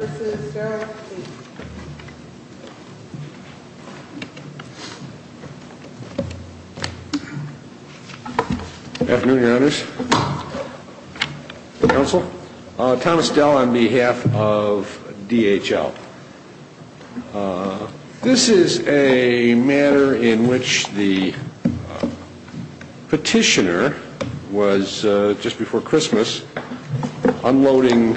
Good afternoon, your honors, counsel. Thomas Dell on behalf of DHL. This is a matter in which the petitioner was, just before Christmas, unloading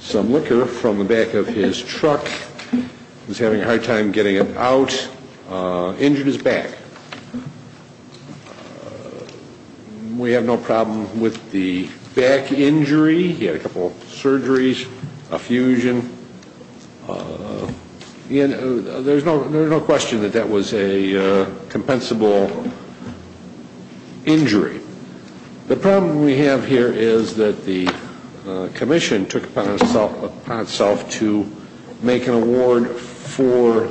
some liquor from the back of his truck, was having a hard time getting it out, injured his back. We have no problem with the back injury. He had a couple of surgeries, a fusion. There's no question that that was a compensable injury. The problem we have here is that the commission took it upon itself to make an award for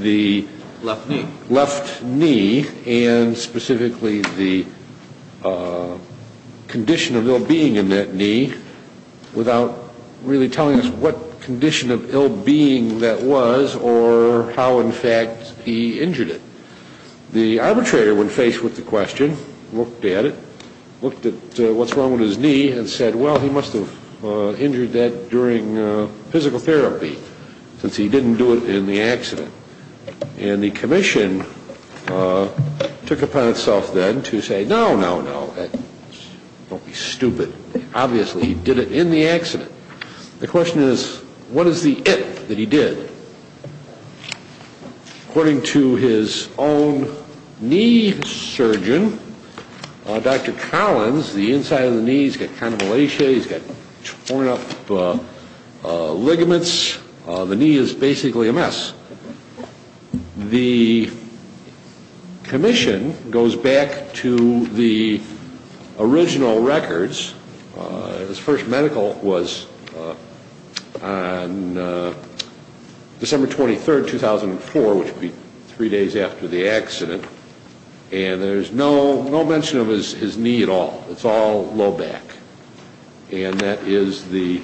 the left knee, and specifically the condition of ill-being in that knee, without really telling us what condition of ill-being that was, or how, in fact, he injured it. The arbitrator, when faced with the question, looked at it, looked at what's wrong with his knee, and said, well, he must have injured that during physical therapy, since he didn't do it in the accident. And the commission took it upon itself then to say, no, no, no, don't be stupid. Obviously, he did it in the accident. The question is, what is the if he's got torn up ligaments, the knee is basically a mess. The commission goes back to the original records. His first medical was on December 23, 2004, which would be three days after the accident. And there's no mention of his knee at all. It's all low back. And that is the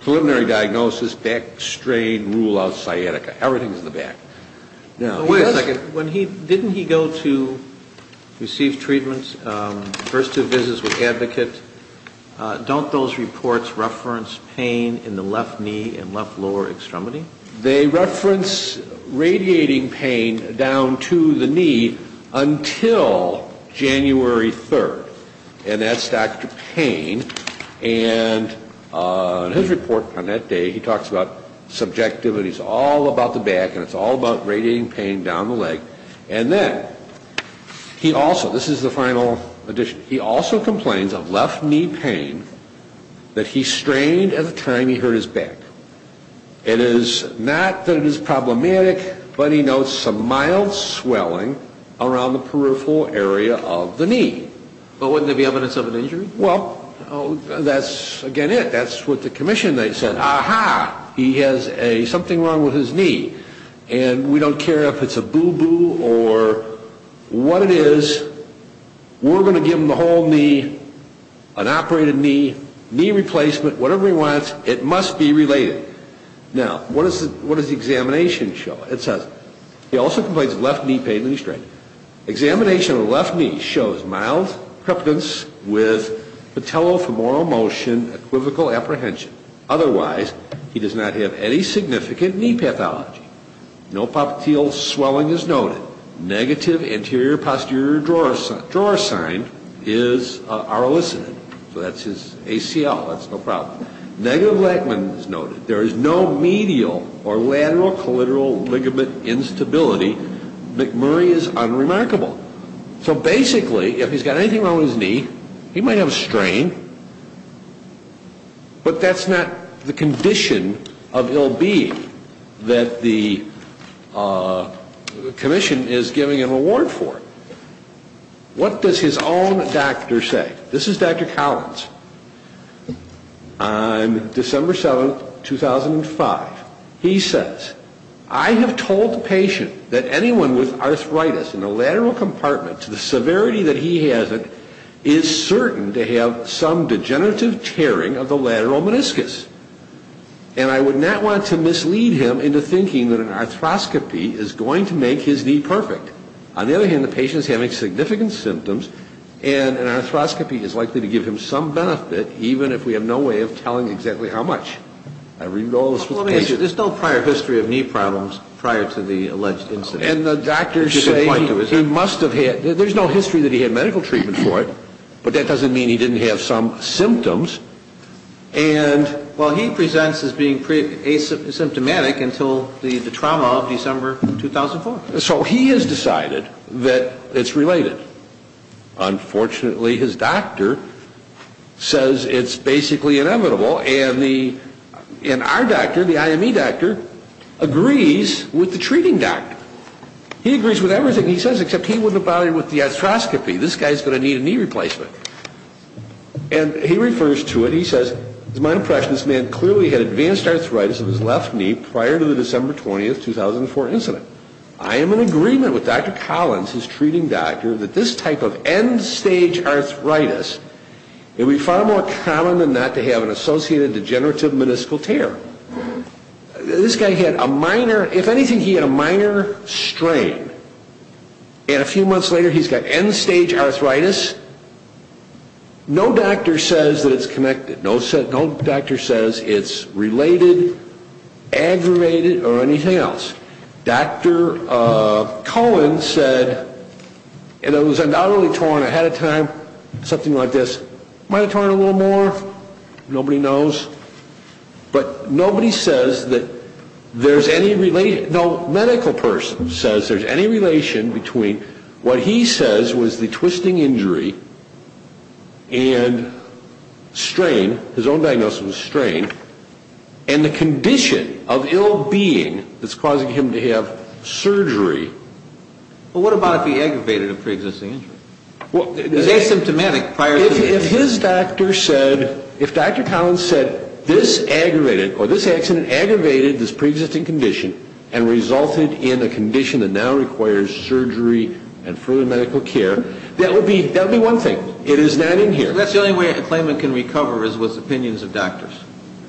preliminary diagnosis, back strain, rule-out, sciatica. Everything's in the back. Now, wait a second. Didn't he go to receive treatment, first do visits with advocates? Don't those reports reference pain in the left knee and left lower extremity? They reference radiating pain down to the knee until January 3rd. And that's Dr. Payne. And his report on that day, he talks about subjectivity. It's all about the back, and it's all about radiating pain down the leg. And then, he also, this is the final edition, he also complains of left knee pain that he strained at the time he hurt his back. It is not that it is problematic, but he notes some mild swelling around the peripheral area of the knee. But wouldn't there be evidence of an injury? Well, that's, again, it. That's what the commission, they said, ah-ha, he has a something wrong with his knee. And we don't care if it's a boo-boo or what it is, we're going to give him a whole knee, an operated knee, knee replacement, whatever he wants, it must be related. Now, what does the examination show? It says, he also complains of left knee pain that he strained. Examination of the left knee shows mild preference with patellofemoral motion, equivocal apprehension. Otherwise, he does not have any significant knee pathology. No patellofemoral swelling is noted. Negative anterior-posterior drawer sign is, are elicited. So that's his ACL, that's no problem. Negative lagman is noted. There is no medial or lateral collateral ligament instability. McMurray is unremarkable. So basically, if he's got anything wrong with his knee, he might have a strain, but that's not the condition of ill-being that the commission is giving an award for. What does his own doctor say? This is Dr. Collins. On December 7, 2005, he says, I have told the patient that anyone with arthritis in the lateral compartment, to the severity that he has it, is certain to have some degenerative tearing of the lateral meniscus. And I would not want to mislead him into thinking that an arthroscopy is going to make his knee perfect. On the other hand, the patient is having significant symptoms and an arthroscopy is likely to give him some benefit, even if we have no way of telling exactly how much. I read all this from the patient. There's no prior history of knee problems prior to the alleged incident. And the doctors say he must have had, there's no history that he had medical treatment for it, but that doesn't mean he didn't have some symptoms. And, well, he presents as being asymptomatic until the trauma of December 2004. So he has decided that it's related. Unfortunately, his doctor says it's basically inevitable. And our doctor, the IME doctor, agrees with the treating doctor. He agrees with everything he says, except he wouldn't bother with the arthroscopy. This guy is going to need a knee replacement. And he refers to it, he says, it's my impression this man clearly had advanced arthritis of his left knee prior to the December 20, 2004 incident. I am in agreement with Dr. Collins, his treating doctor, that this type of end-stage arthritis would be far more common than not to have an associated degenerative meniscal tear. This guy had a minor, if anything, he had a minor strain. And a few months later, he's got end-stage arthritis. No doctor says that it's connected. No doctor says it's related, aggravated, or anything else. Dr. Collins said, and it was undoubtedly torn ahead of time, something like this. Might have torn it a little more, nobody knows. But nobody says that there's any relation, no medical person says there's any relation between what he says was the twisting injury and strain, his own diagnosis was strain, and the condition of ill-being that's causing him to have surgery. Well, what about if he aggravated a pre-existing injury? Well, if his doctor said, if Dr. Collins said this aggravated, or this accident aggravated this pre-existing condition and resulted in a condition that now requires surgery and further medical care, that would be one thing. It is not in here. So that's the only way a claimant can recover is with opinions of doctors?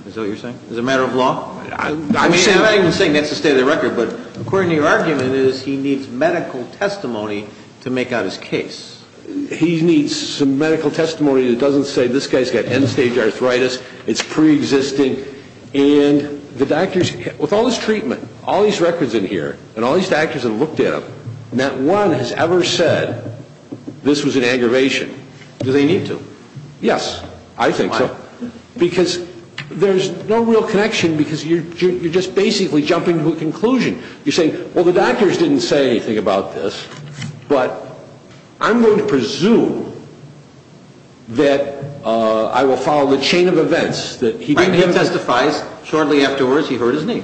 Is that what you're saying? As a matter of law? I'm not even saying that's the state of the record, but according to your argument, he needs medical testimony to make out his case. He needs some medical testimony that doesn't say this guy's got end-stage arthritis, it's pre-existing, and the doctors, with all this treatment, all these records in here, and all these doctors have looked at them, not one has ever said this was an aggravation. Do they need to? Yes, I think so. Because there's no real connection, because you're just basically jumping to a conclusion. You're saying, well, the doctors didn't say anything about this, but I'm going to presume that I will follow the chain of events that he did. And he testifies, shortly afterwards, he hurt his knee.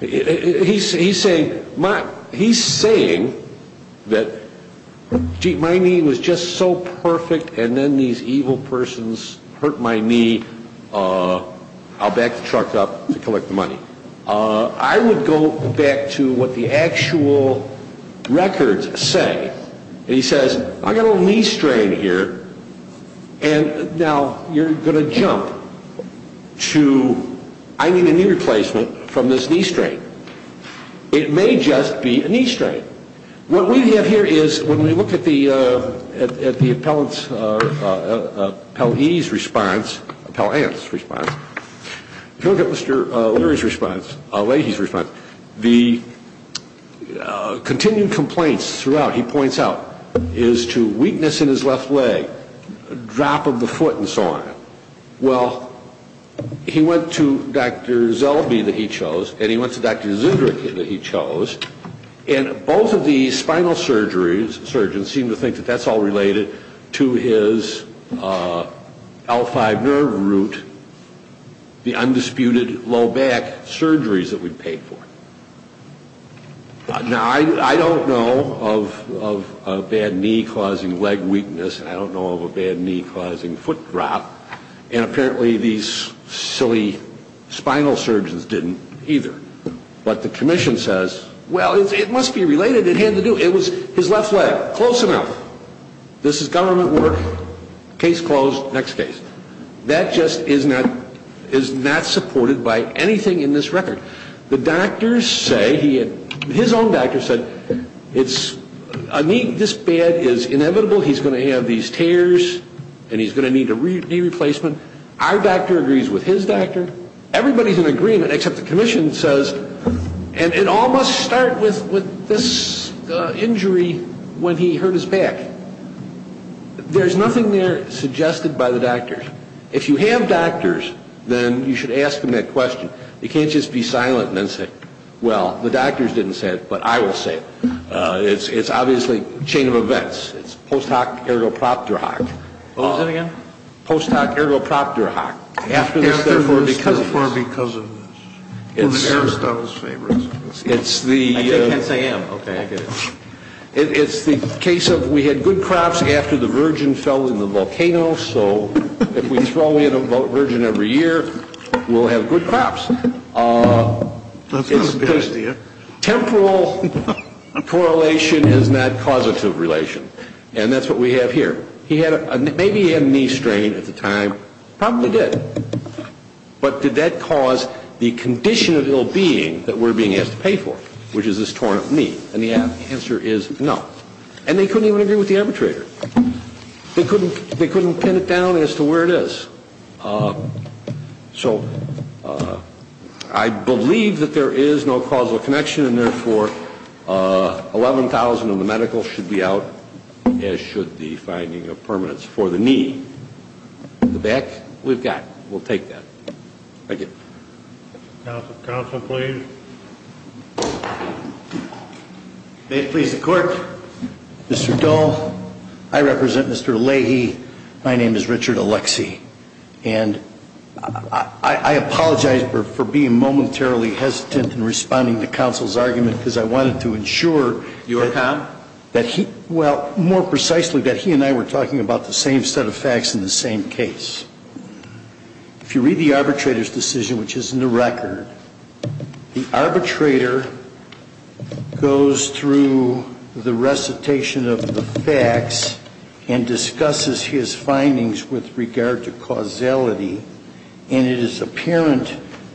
He's saying that, gee, my knee was just so perfect, and then these evil persons hurt my knee, I'll back the truck up to collect the money. I would go back to what the actual records say. He says, I've got a little knee strain here, and now you're going to It may just be a knee strain. What we have here is, when we look at the appellant's response, appellant's response, if you look at Mr. Leary's response, Leahy's response, the continued complaints throughout, he points out, is to weakness in his left leg, drop of the foot, and so on. Well, he went to Dr. Zellbee that he chose, and he went to Dr. Zunderich that he chose, and both of these spinal surgeons seem to think that that's all related to his L5 nerve root, the undisputed low back surgeries that we of a bad knee causing foot drop, and apparently these silly spinal surgeons didn't either. But the commission says, well, it must be related, it had to do, it was his left leg, close enough. This is government work, case closed, next case. That just is not, is not supported by anything in this record. The doctors say, he had, his own doctor said, that it's, this bad is inevitable, he's going to have these tears, and he's going to need a knee replacement. Our doctor agrees with his doctor. Everybody's in agreement, except the commission says, and it all must start with this injury when he hurt his back. There's nothing there suggested by the doctors. If you have doctors, then you should ask them that question. You can't just be silent and then say, well, the doctors didn't say it, but I will say it. It's obviously a chain of events. It's post hoc ergo propter hoc. What was that again? Post hoc ergo propter hoc. After this, therefore, because of this. After this, therefore, because of this. It's the, it's the case of we had good crops after the virgin fell in the volcano, so if we throw in a virgin every year, we'll have good crops. That's not a bad idea. Temporal correlation is not causative relation, and that's what we have here. He had a, maybe he had a knee strain at the time. Probably did. But did that cause the condition of ill-being that we're being asked to pay for, which is this torn up knee? And the answer is no. And they couldn't even agree with the arbitrator. They couldn't, they couldn't pin it down as to where it is. So I believe that there is no causal connection, and therefore, $11,000 of the medical should be out, as should the finding of permanence for the knee. The back, we've got. We'll take that. Thank you. Counsel, please. Thank you. May it please the Court. Mr. Dole, I represent Mr. Leahy. My name is Richard Alexie. And I, I apologize for, for being momentarily hesitant in responding to counsel's argument because I wanted to ensure. Your comment? That he, well, more precisely, that he and I were talking about the same set of facts in the same case. If you read the arbitrator's decision, which is in the record, the arbitrator goes through the recitation of the facts and discusses his findings with regard to causality. And it is apparent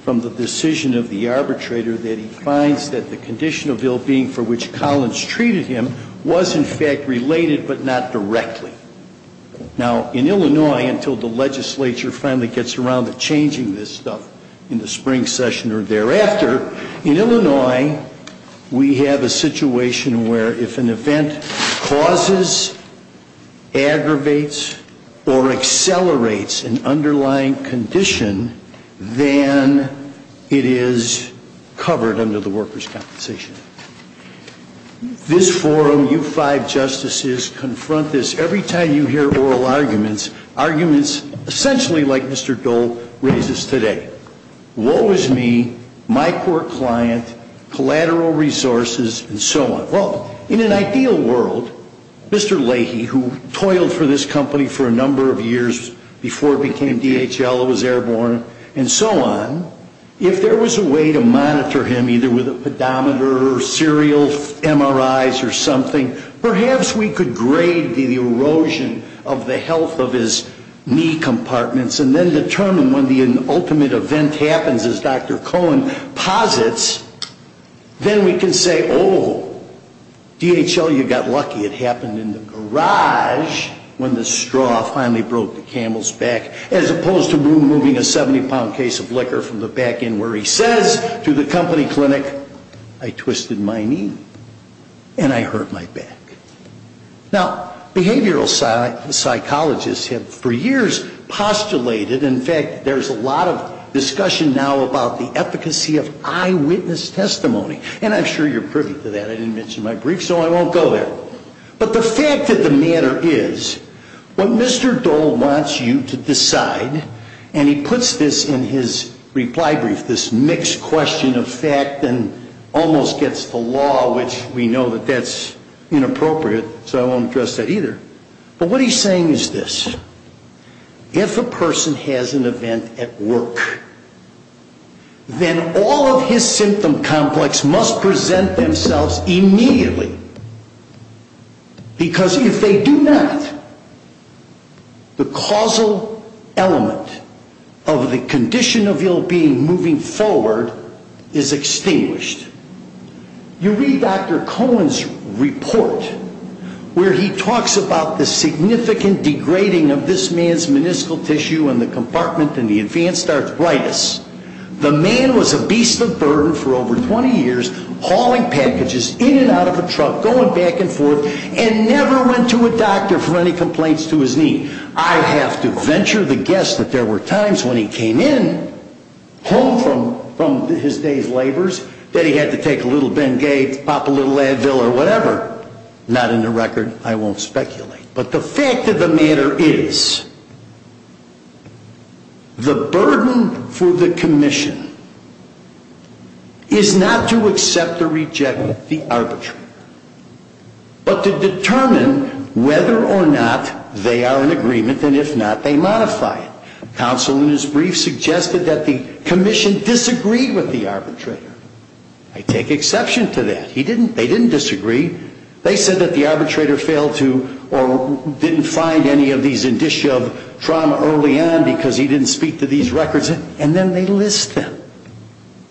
from the decision of the arbitrator that he finds that the condition of ill-being for which Collins treated him was, in fact, related, but not directly. Now, in Illinois, until the legislature finally gets around to changing this stuff in the spring session or thereafter, in Illinois, we have a situation where if an event causes, aggravates, or accelerates an underlying condition, then it is covered under the workers' compensation. This forum, you five justices, confront this every time you hear oral arguments, arguments essentially like Mr. Dole raises today. Woe is me, my core client, collateral resources, and so on. Well, in an ideal world, Mr. Leahy, who toiled for this company for a number of years before it became DHL, it was airborne, and so on, if there was a way to monitor him, either with a pedometer or serial MRIs or something, perhaps we could grade the erosion of the health of his knee compartments and then determine when the ultimate event happens, as Dr. Cohen posits, then we can say, oh, DHL, you got lucky. It happened in the garage when the straw finally broke the camel's back, as opposed to removing a 70-pound case of liquor from the back end where he says to the company clinic, I twisted my knee and I hurt my back. Now, behavioral psychologists have for years postulated, in fact, there's a lot of discussion now about the efficacy of eyewitness testimony, and I'm sure you're privy to that. I didn't mention my brief, so I won't go there. But the fact of the matter is, what Mr. Dole wants you to decide, and he puts this in his reply brief, this mixed question of fact and almost gets the law, which we know that that's inappropriate, so I won't address that either. But what he's saying is this. If a person has an event at work, then all of his symptom complex must present themselves immediately, because if they do not, the causal element of the condition of ill-being moving forward is extinguished. You read Dr. Cohen's report where he talks about the significant degrading of this man's meniscal tissue and the compartment and the hauling packages in and out of a truck, going back and forth, and never went to a doctor for any complaints to his knee. I have to venture the guess that there were times when he came in, home from his day's labors, that he had to take a little Bengay, pop a little Advil or whatever. Not in the record. I won't speculate. But the fact of the matter is, the burden for the commission is not to accept or reject the arbitrator, but to determine whether or not they are in agreement, and if not, they modify it. Counsel in his brief suggested that the commission disagreed with the arbitrator. I take exception to that. He didn't, they didn't disagree. They said that the arbitrator failed to or didn't find any of these indicia of trauma early on because he didn't speak to these records. And then they list them.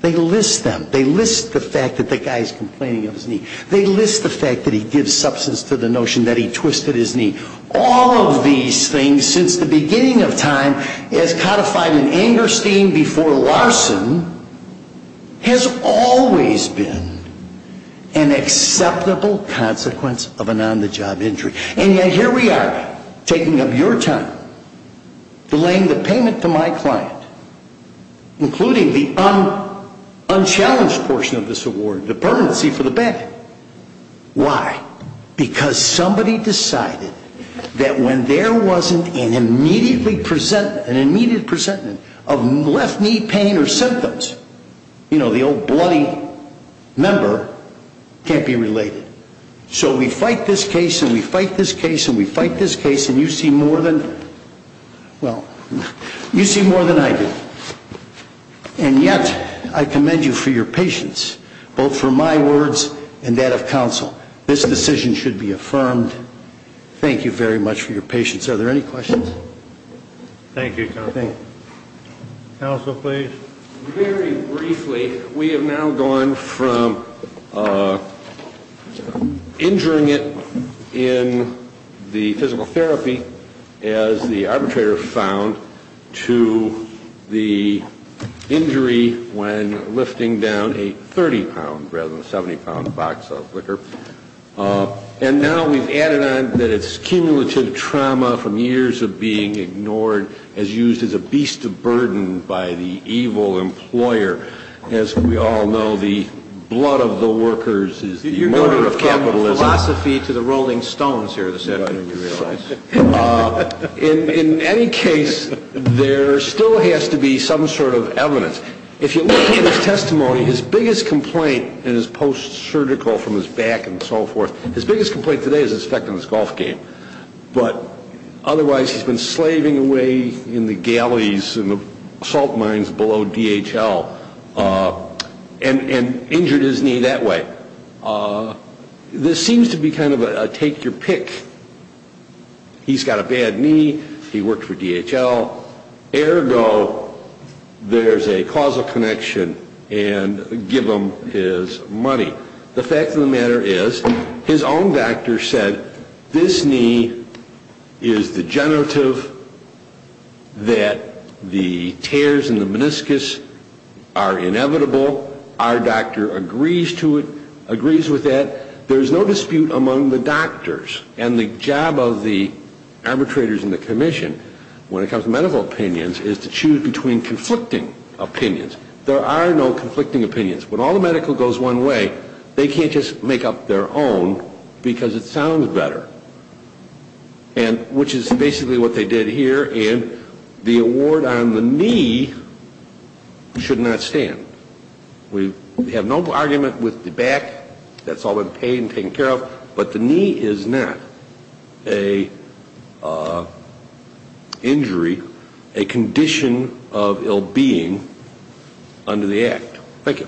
They list them. They list the fact that the guy is complaining of his knee. They list the fact that he gives substance to the notion that he twisted his knee. All of these things, since the beginning of time, as codified in Angerstein before Larson, has always been an acceptable consequence of an on-the-job injury. And yet here we are, taking up your time, delaying the payment to my client, including the unchallenged portion of this award, the permanency for the Bengay. Why? Because somebody decided that when there wasn't an immediate presentment of left knee pain or symptoms, you know, the old bloody member, can't be related. So we fight this case and we fight this case and we fight this case and you see more than, well, you see more than I do. And yet, I commend you for your patience, both for my words and that of counsel. This decision should be affirmed. Thank you very much for your patience. Are there any questions? Thank you, Counsel. Counsel, please. Very briefly, we have now gone from injuring it in the physical therapy, as the arbitrator found, to the injury when lifting down a 30-pound rather than a 70-pound box of liquor. And now we've added on that it's cumulative trauma from years of being ignored as used as a beast of burden by the evil employer. As we all know, the blood of the workers is the murder of capitalism. You're going from philosophy to the Rolling Stones here this afternoon, you realize. In any case, there still has to be some sort of evidence. If you look at his testimony, his biggest complaint in his post-surgical from his back and so forth, his biggest complaint today is his effect on his golf game. But otherwise, he's been slaving away in the galleys and the salt mines below DHL and injured his knee that way. This seems to be kind of a take-your-pick. He's got a bad knee. He worked for DHL. Ergo, there's a causal connection and give him his money. The fact of the matter is, his own doctor said, this knee is degenerative, that the tears in the meniscus are inevitable. Our doctor agrees with that. There's no dispute among the doctors. And the job of the arbitrators in the commission when it comes to medical opinions is to choose between conflicting opinions. There are no conflicting opinions. When all the medical goes one way, they can't just make up their own because it sounds better, which is basically what they did here. And the award on the knee should not stand. We have no argument with the back. That's a condition of ill-being under the act. Thank you.